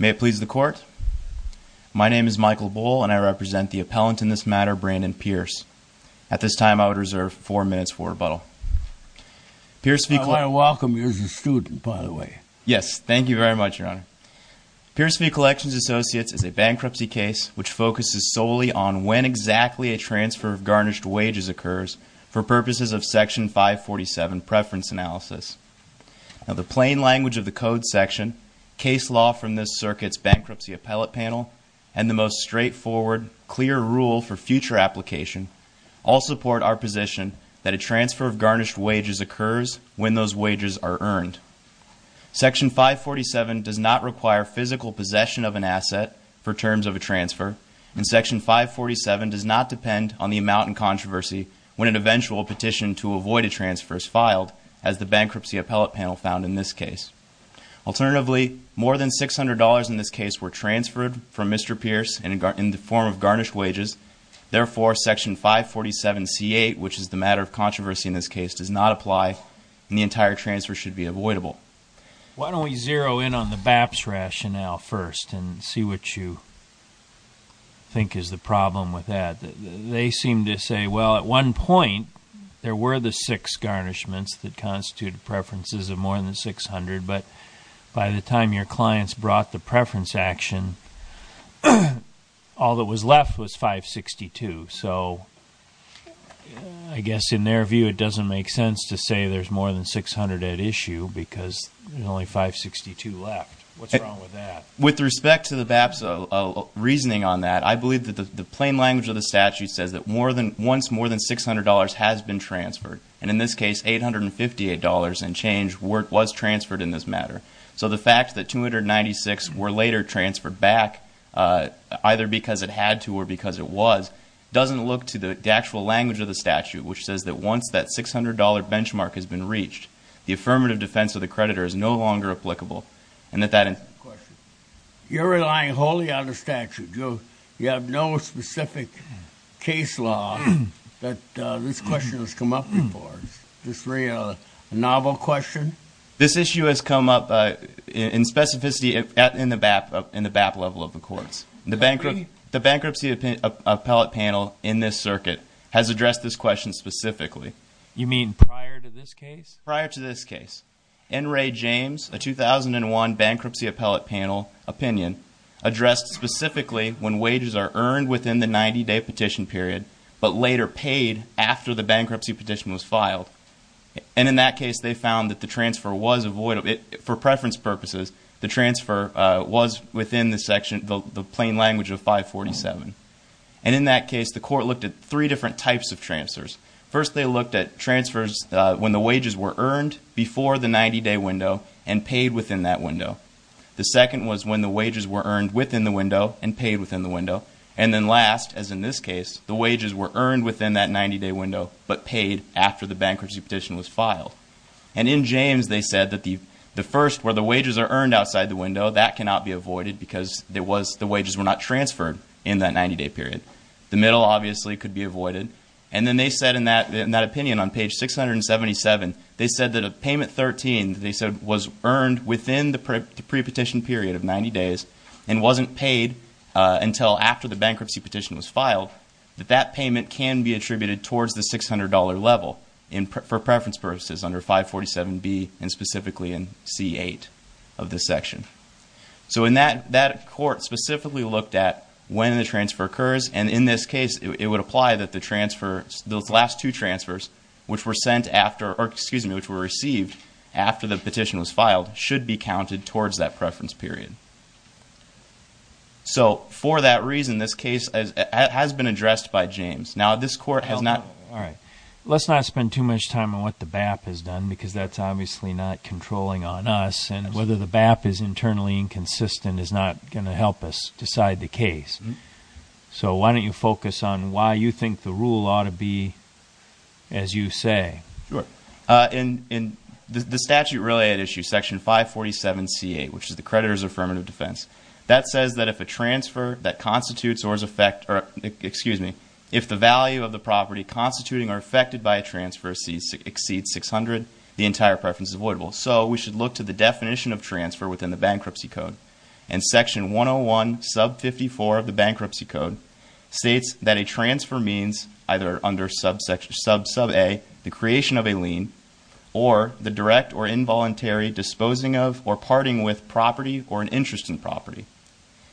May it please the Court, my name is Michael Bohl and I represent the appellant in this matter, Brandon Pierce. At this time I would reserve 4 minutes for rebuttal. I want to welcome you as a student, by the way. Yes, thank you very much, Your Honor. Pierce v. Collections Associates is a bankruptcy case which focuses solely on when exactly a transfer of garnished wages occurs for purposes of Section 547 Preference Analysis. Now the plain language of the Code section, case law from this circuit's bankruptcy appellate panel, and the most straightforward, clear rule for future application all support our position that a transfer of garnished wages occurs when those wages are earned. Section 547 does not require physical possession of an asset for terms of a transfer, and Section 547 does not depend on the amount in controversy when an eventual petition to avoid a transfer is filed, as the bankruptcy appellate panel found in this case. Alternatively, more than $600 in this case were transferred from Mr. Pierce in the form of garnished wages. Therefore, Section 547c8, which is the matter of controversy in this case, does not apply, and the entire transfer should be avoidable. Why don't we zero in on the BAPS rationale first and see what you think is the problem with that. They seem to say, well, at one point, there were the six garnishments that constituted preferences of more than $600, but by the time your clients brought the preference action, all that was left was $562. So I guess in their view, it doesn't make sense to say there's more than $600 at issue because there's only $562 left. What's wrong with that? With respect to the BAPS reasoning on that, I believe that the plain language of the statute says that once more than $600 has been transferred, and in this case, $858 and change was transferred in this matter. So the fact that $296 were later transferred back, either because it had to or because it was, doesn't look to the actual language of the statute, which says that once that $600 benchmark has been reached, the affirmative defense of the creditor is no longer applicable. You're relying wholly on the statute. You have no specific case law that this question has come up before. Is this really a novel question? This issue has come up in specificity in the BAP level of the courts. The bankruptcy appellate panel in this circuit has addressed this question specifically. You mean prior to this case? Prior to this case. N. Ray James, a 2001 bankruptcy appellate panel opinion, addressed specifically when wages are earned within the 90-day petition period but later paid after the bankruptcy petition was filed. And in that case, they found that the transfer was avoidable. For preference purposes, the transfer was within the section, the plain language of 547. And in that case, the court looked at three different types of transfers. First, they looked at transfers when the wages were earned before the 90-day window and paid within that window. The second was when the wages were earned within the window and paid within the window. And then last, as in this case, the wages were earned within that 90-day window but paid after the bankruptcy petition was filed. And in James, they said that the first, where the wages are earned outside the window, that cannot be avoided because the wages were not transferred in that 90-day period. The middle, obviously, could be avoided. And then they said in that opinion on page 677, they said that if payment 13 was earned within the pre-petition period of 90 days and wasn't paid until after the bankruptcy petition was filed, that that payment can be attributed towards the $600 level for preference purposes under 547B and specifically in C8 of this section. So in that, that court specifically looked at when the transfer occurs. And in this case, it would apply that the transfer, those last two transfers, which were sent after, or excuse me, which were received after the petition was filed should be counted towards that preference period. So for that reason, this case has been addressed by James. Now, this court has not... because that's obviously not controlling on us. And whether the BAP is internally inconsistent is not going to help us decide the case. So why don't you focus on why you think the rule ought to be as you say. Sure. In the statute related issue, section 547C8, which is the creditor's affirmative defense, that says that if a transfer that constitutes or is effect... or excuse me, if the value of the property constituting or affected by a transfer exceeds $600, the entire preference is voidable. So we should look to the definition of transfer within the bankruptcy code. And section 101, sub 54 of the bankruptcy code states that a transfer means either under sub A, the creation of a lien, or the direct or involuntary disposing of or parting with property or an interest in property.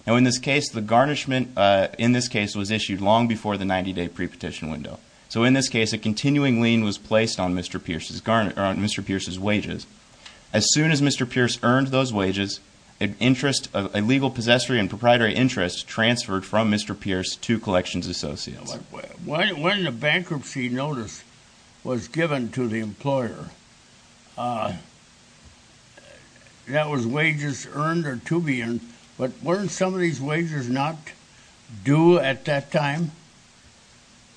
Now in this case, the garnishment in this case was issued long before the 90-day pre-petition window. So in this case, a continuing lien was placed on Mr. Pierce's wages. As soon as Mr. Pierce earned those wages, an interest... a legal possessory and proprietary interest transferred from Mr. Pierce to Collections Associates. When the bankruptcy notice was given to the employer, that was wages earned or to be earned. But weren't some of these wages not due at that time?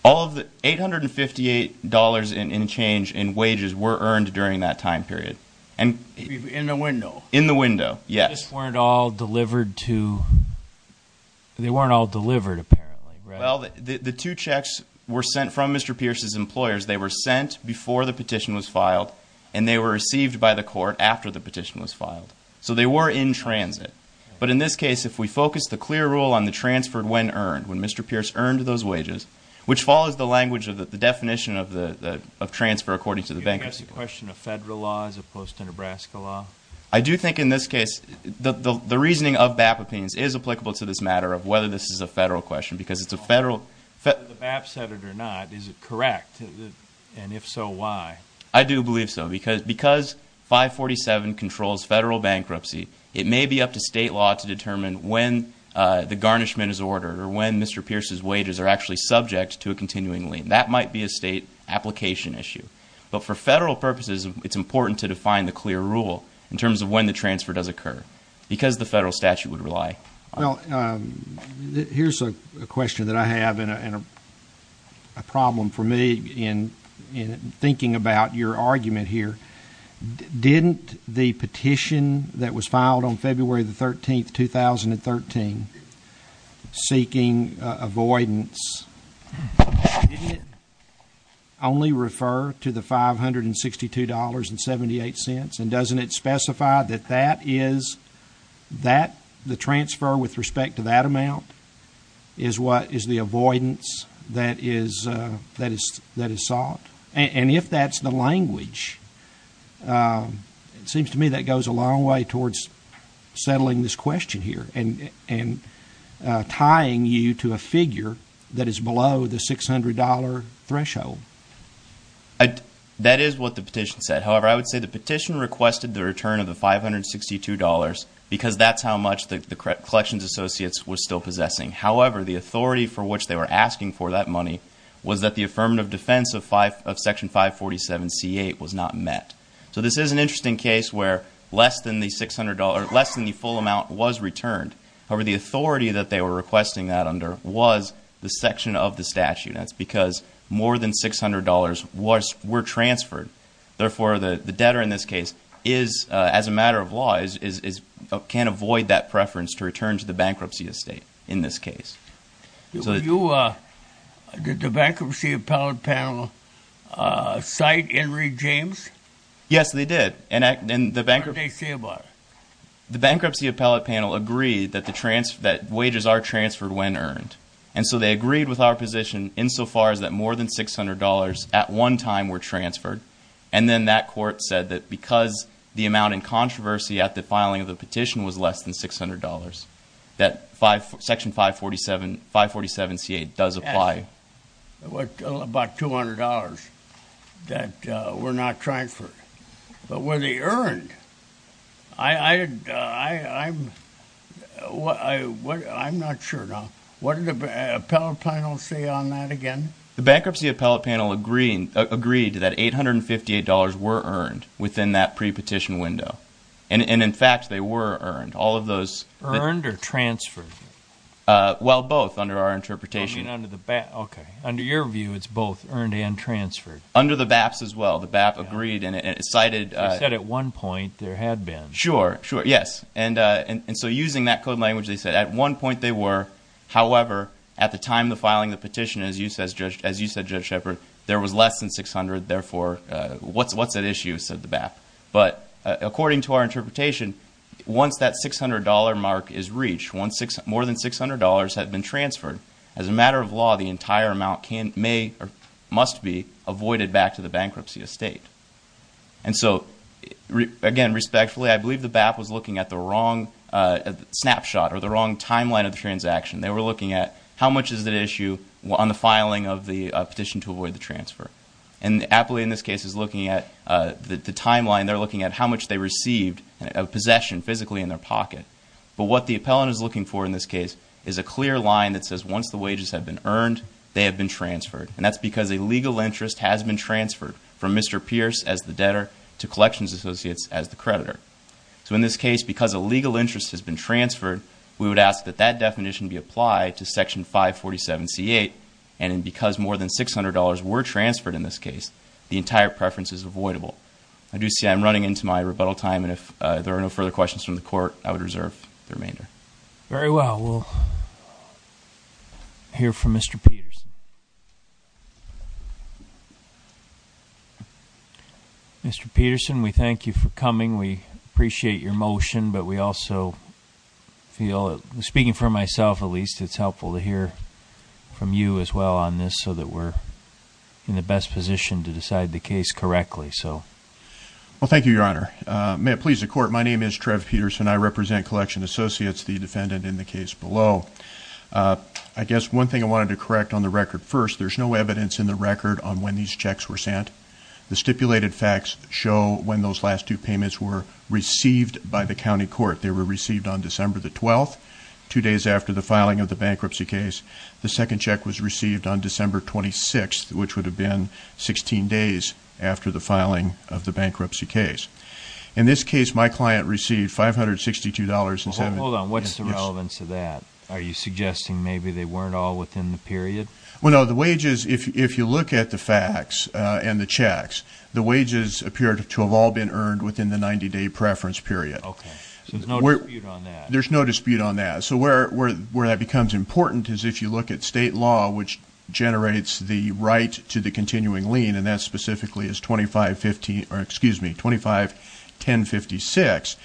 All of the $858 in change in wages were earned during that time period. In the window? In the window, yes. They just weren't all delivered to... they weren't all delivered apparently, right? Well, the two checks were sent from Mr. Pierce's employers. They were sent before the petition was filed, and they were received by the court after the petition was filed. So they were in transit. But in this case, if we focus the clear rule on the transfer when earned, when Mr. Pierce earned those wages, which follows the language of the definition of transfer according to the bankruptcy code... Do you think that's a question of federal law as opposed to Nebraska law? I do think in this case, the reasoning of BAP opinions is applicable to this matter of whether this is a federal question because it's a federal... Whether the BAP said it or not, is it correct? And if so, why? I do believe so because 547 controls federal bankruptcy. It may be up to state law to determine when the garnishment is ordered or when Mr. Pierce's wages are actually subject to a continuing lien. That might be a state application issue. But for federal purposes, it's important to define the clear rule in terms of when the transfer does occur because the federal statute would rely on it. Well, here's a question that I have and a problem for me in thinking about your argument here. Didn't the petition that was filed on February 13, 2013, seeking avoidance, didn't it only refer to the $562.78? And doesn't it specify that the transfer with respect to that amount is the avoidance that is sought? And if that's the language, it seems to me that goes a long way towards settling this question here and tying you to a figure that is below the $600 threshold. That is what the petition said. However, I would say the petition requested the return of the $562 because that's how much the collections associates were still possessing. However, the authority for which they were asking for that money was that the affirmative defense of Section 547c8 was not met. So this is an interesting case where less than the full amount was returned. However, the authority that they were requesting that under was the section of the statute. That's because more than $600 were transferred. Therefore, the debtor in this case, as a matter of law, can't avoid that preference to return to the bankruptcy estate in this case. Did the bankruptcy appellate panel cite Henry James? Yes, they did. What did they say about it? The bankruptcy appellate panel agreed that wages are transferred when earned. And so they agreed with our position insofar as that more than $600 at one time were transferred. And then that court said that because the amount in controversy at the filing of the petition was less than $600, that Section 547c8 does apply. It was about $200 that were not transferred. But were they earned? I'm not sure. What did the appellate panel say on that again? The bankruptcy appellate panel agreed that $858 were earned within that pre-petition window. And, in fact, they were earned. Earned or transferred? Well, both under our interpretation. Under your view, it's both earned and transferred. Under the BAPs as well. The BAP agreed. They said at one point there had been. Sure, sure. Yes. And so using that code language, they said at one point they were. However, at the time of filing the petition, as you said, Judge Shepard, there was less than $600. Therefore, what's at issue, said the BAP. But according to our interpretation, once that $600 mark is reached, more than $600 had been transferred, as a matter of law, the entire amount may or must be avoided back to the bankruptcy estate. And so, again, respectfully, I believe the BAP was looking at the wrong snapshot or the wrong timeline of the transaction. They were looking at how much is at issue on the filing of the petition to avoid the transfer. And the appellate in this case is looking at the timeline. They're looking at how much they received of possession physically in their pocket. But what the appellant is looking for in this case is a clear line that says once the wages have been earned, they have been transferred. And that's because a legal interest has been transferred from Mr. Pierce as the debtor to Collections Associates as the creditor. So in this case, because a legal interest has been transferred, we would ask that that definition be applied to Section 547C8. And because more than $600 were transferred in this case, the entire preference is avoidable. I do see I'm running into my rebuttal time, and if there are no further questions from the court, I would reserve the remainder. Very well, we'll hear from Mr. Peterson. Mr. Peterson, we thank you for coming. We appreciate your motion, but we also feel, speaking for myself at least, it's helpful to hear from you as well on this so that we're in the best position to decide the case correctly. So. Well, thank you, Your Honor. May it please the court, my name is Trev Peterson. I represent Collection Associates, the defendant in the case below. I guess one thing I wanted to correct on the record first, there's no evidence in the record on when these checks were sent. The stipulated facts show when those last two payments were received by the county court. They were received on December the 12th, two days after the filing of the bankruptcy case. The second check was received on December 26th, which would have been 16 days after the filing of the bankruptcy case. In this case, my client received $562.70. Hold on, what's the relevance of that? Are you suggesting maybe they weren't all within the period? Well, no, the wages, if you look at the facts and the checks, the wages appear to have all been earned within the 90 day preference period. Okay, so there's no dispute on that. There's no dispute on that. So where that becomes important is if you look at state law, which generates the right to the continuing lien. And that specifically is 25, excuse me, 25-1056.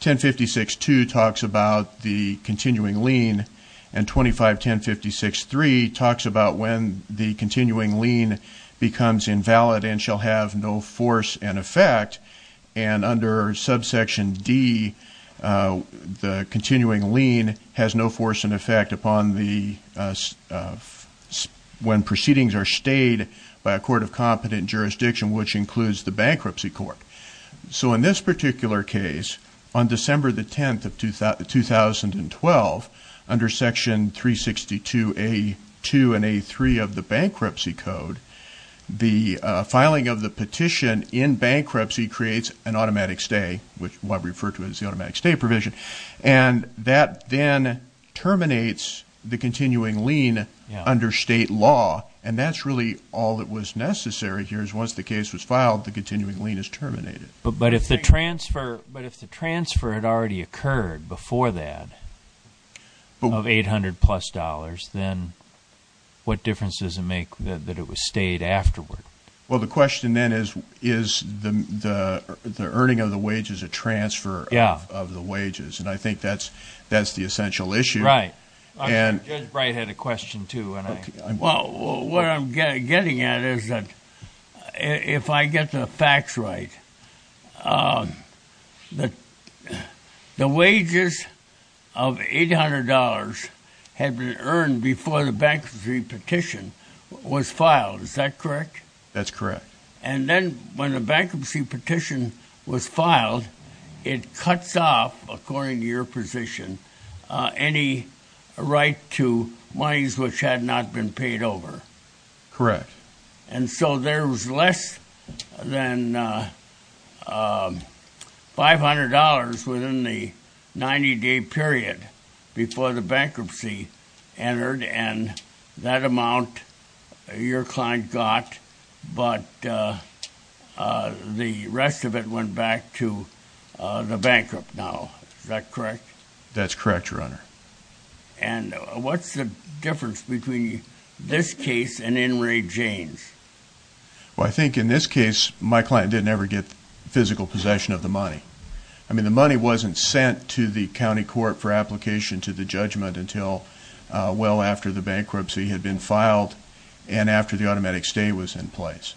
1056-2 talks about the continuing lien. And 25-1056-3 talks about when the continuing lien becomes invalid and shall have no force and effect. And under subsection D, the continuing lien has no force and effect upon when proceedings are stayed by a court of competent jurisdiction, which includes the bankruptcy court. So in this particular case, on December the 10th of 2012, under section 362A2 and A3 of the bankruptcy code, the filing of the petition in bankruptcy creates an automatic stay, which what we refer to as the automatic stay provision. And that then terminates the continuing lien under state law. And that's really all that was necessary here, is once the case was filed, the continuing lien is terminated. But if the transfer had already occurred before that of 800 plus dollars, then what difference does it make that it was stayed afterward? Well, the question then is, is the earning of the wages a transfer of the wages? And I think that's the essential issue. Right. And- Judge Bright had a question too, and I- Well, what I'm getting at is that, if I get the facts right, the wages of $800 had been earned before the bankruptcy petition was filed, is that correct? That's correct. And then when a bankruptcy petition was filed, it cuts off, according to your position, any right to monies which had not been paid over. Correct. And so there was less than $500 within the 90-day period before the bankruptcy entered, and that amount your client got, but the rest of it went back to the bankrupt now, is that correct? That's correct, Your Honor. And what's the difference between this case and in Ray James? Well, I think in this case, my client didn't ever get physical possession of the money. I mean, the money wasn't sent to the county court for application to the judgment until well after the bankruptcy had been filed and after the automatic stay was in place.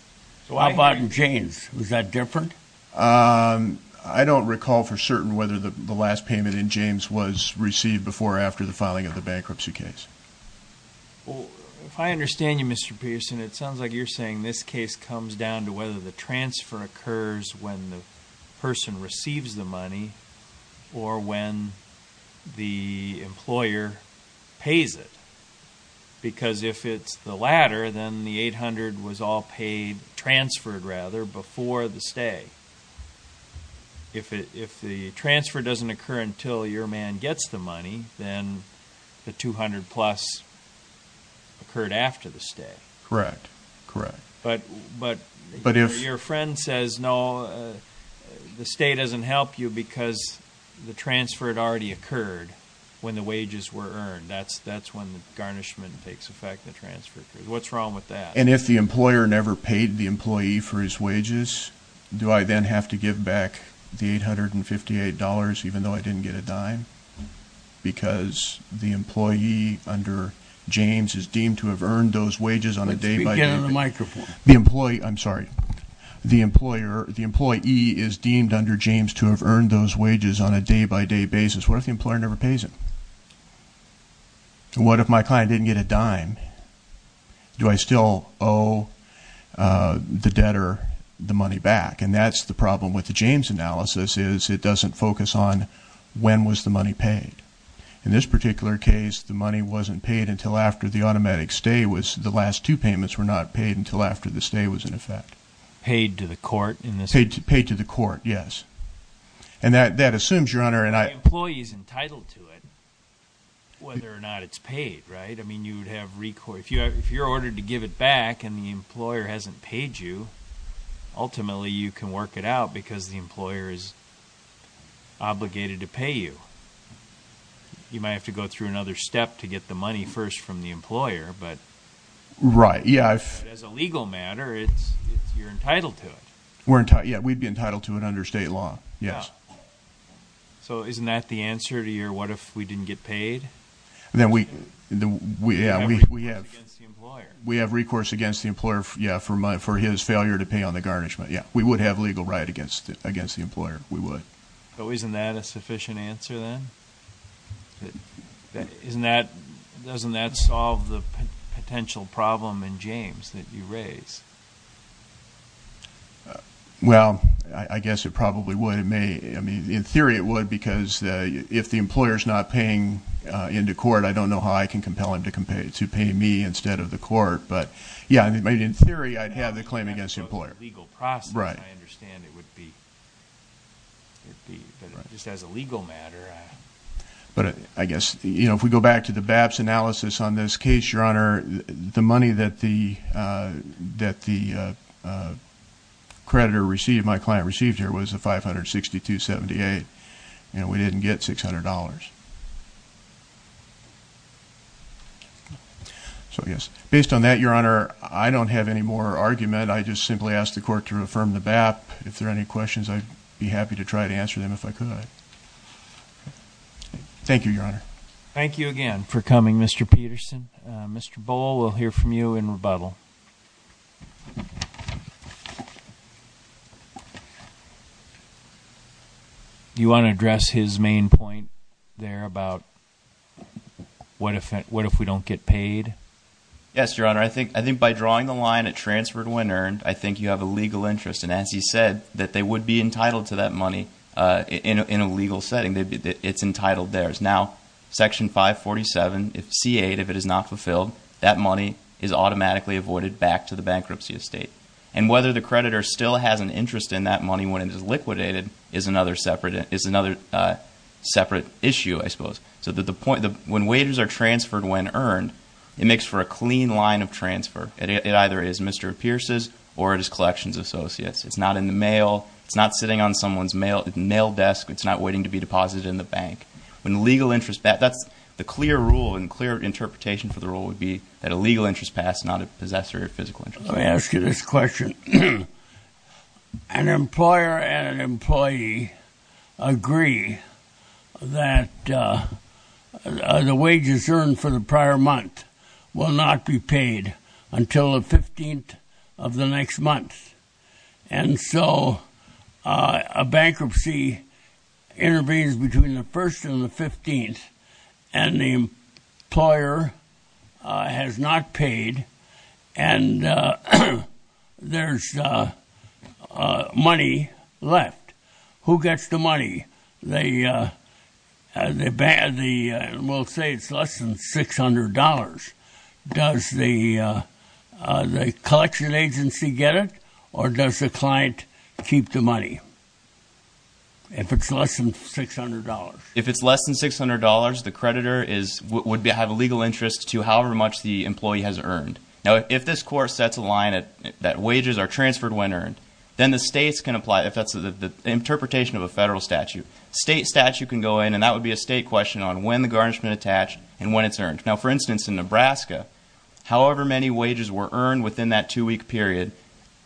So how about in James? Was that different? I don't recall for certain whether the last payment in James was received before or after the filing of the bankruptcy case. Well, if I understand you, Mr. Pearson, it sounds like you're saying this case comes down to whether the transfer occurs when the person receives the money or when the employer pays it. Because if it's the latter, then the $800 was all paid, transferred rather, before the stay. If the transfer doesn't occur until your man gets the money, then the $200-plus occurred after the stay. Correct. Correct. But your friend says, no, the stay doesn't help you because the transfer had already occurred when the wages were earned. That's when the garnishment takes effect, the transfer occurs. What's wrong with that? And if the employer never paid the employee for his wages, do I then have to give back the $858 even though I didn't get a dime? Because the employee under James is deemed to have earned those wages on a day by day- Let's get him a microphone. The employee, I'm sorry. The employee is deemed under James to have earned those wages on a day by day basis. What if the employer never pays him? What if my client didn't get a dime? Do I still owe the debtor the money back? And that's the problem with the James analysis, is it doesn't focus on when was the money paid. In this particular case, the money wasn't paid until after the automatic stay was, the last two payments were not paid until after the stay was in effect. Paid to the court in this case? Paid to the court, yes. And that assumes, Your Honor, and I- The employee is entitled to it, whether or not it's paid, right? I mean, you would have, if you're ordered to give it back and the employer hasn't paid you, ultimately you can work it out because the employer is obligated to pay you. You might have to go through another step to get the money first from the employer, but- Right, yeah. As a legal matter, you're entitled to it. We're entitled, yeah, we'd be entitled to it under state law, yes. Yeah, so isn't that the answer to your what if we didn't get paid? Then we, yeah, we have recourse against the employer, yeah, for his failure to pay on the garnishment. Yeah, we would have legal right against the employer, we would. So isn't that a sufficient answer, then? Doesn't that solve the potential problem in James that you raise? Well, I guess it probably would. It may, I mean, in theory it would because if the employer's not paying into court, I don't know how I can compel him to pay me instead of the court. But yeah, I mean, in theory, I'd have the claim against the employer. Legal process, I understand it would be, but just as a legal matter, I- But I guess, if we go back to the BAP's analysis on this case, Your Honor, the money that the creditor received, my client received here, was a 562.78, and we didn't get $600. So I guess, based on that, Your Honor, I don't have any more argument. I just simply ask the court to affirm the BAP. If there are any questions, I'd be happy to try to answer them if I could. Thank you, Your Honor. Thank you again for coming, Mr. Peterson. Mr. Bohl, we'll hear from you in rebuttal. You want to address his main point there about what if we don't get paid? Yes, Your Honor, I think by drawing the line at transferred when earned, I think you have a legal interest. And as he said, that they would be entitled to that money in a legal setting, it's entitled theirs. Now, section 547, if C8, if it is not fulfilled, that money is automatically avoided back to the bankruptcy estate. And whether the creditor still has an interest in that money when it is liquidated is another separate issue, I suppose. So the point, when wages are transferred when earned, it makes for a clean line of transfer. It either is Mr. Pierce's or it is Collections Associates. It's not in the mail, it's not sitting on someone's mail desk, it's not waiting to be deposited in the bank. When legal interest, that's the clear rule and clear interpretation for the rule would be that a legal interest passed, not a possessory or physical interest. Let me ask you this question. An employer and an employee agree that the wages earned for the prior month will not be paid until the 15th of the next month. And so, a bankruptcy intervenes between the 1st and the 15th. And the employer has not paid, and there's money left. Who gets the money? We'll say it's less than $600. Does the collection agency get it, or does the client keep the money? If it's less than $600. If it's less than $600, the creditor would have a legal interest to however much the employee has earned. Now, if this court sets a line that wages are transferred when earned, then the states can apply, if that's the interpretation of a federal statute. State statute can go in, and that would be a state question on when the garnishment attached and when it's earned. Now, for instance, in Nebraska, however many wages were earned within that two week period,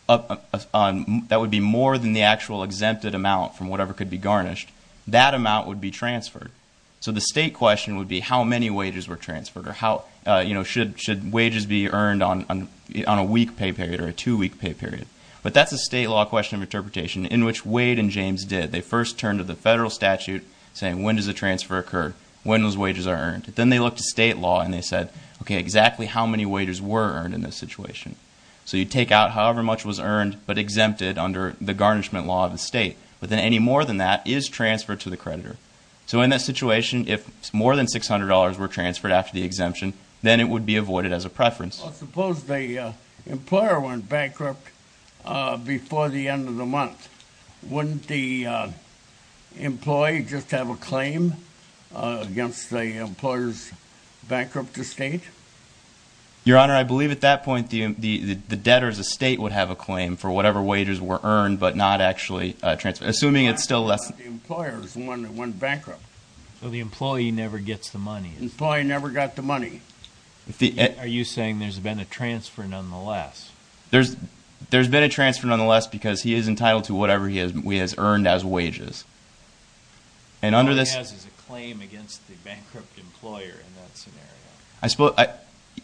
that would be more than the actual exempted amount from whatever could be garnished, that amount would be transferred. So the state question would be how many wages were transferred, or should wages be earned on a week pay period, or a two week pay period. But that's a state law question of interpretation, in which Wade and James did. They first turned to the federal statute, saying when does a transfer occur, when those wages are earned. Then they looked at state law, and they said, okay, exactly how many wages were earned in this situation. So you take out however much was earned, but exempted under the garnishment law of the state. But then any more than that is transferred to the creditor. So in that situation, if more than $600 were transferred after the exemption, then it would be avoided as a preference. Suppose the employer went bankrupt before the end of the month. Wouldn't the employee just have a claim against the employer's bankrupt estate? Your Honor, I believe at that point, the debtor's estate would have a claim for whatever wages were earned, but not actually transferred. Assuming it's still less- The employer's one that went bankrupt. So the employee never gets the money. Employee never got the money. Are you saying there's been a transfer nonetheless? There's been a transfer nonetheless, because he is entitled to whatever he has earned as wages. And under this- All he has is a claim against the bankrupt employer in that scenario.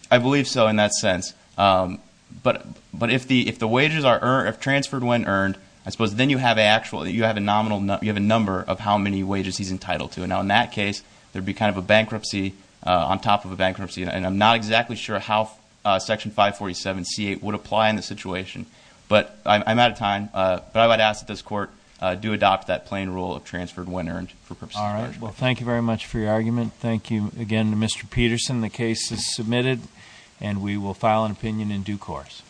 I believe so in that sense. But if the wages are transferred when earned, I suppose then you have a number of how many wages he's entitled to. Now in that case, there'd be kind of a bankruptcy on top of a bankruptcy. And I'm not exactly sure how section 547 C8 would apply in this situation. But I'm out of time. But I would ask that this court do adopt that plain rule of transferred when earned for purposes of- All right, well thank you very much for your argument. Thank you again to Mr. Peterson. The case is submitted and we will file an opinion in due course.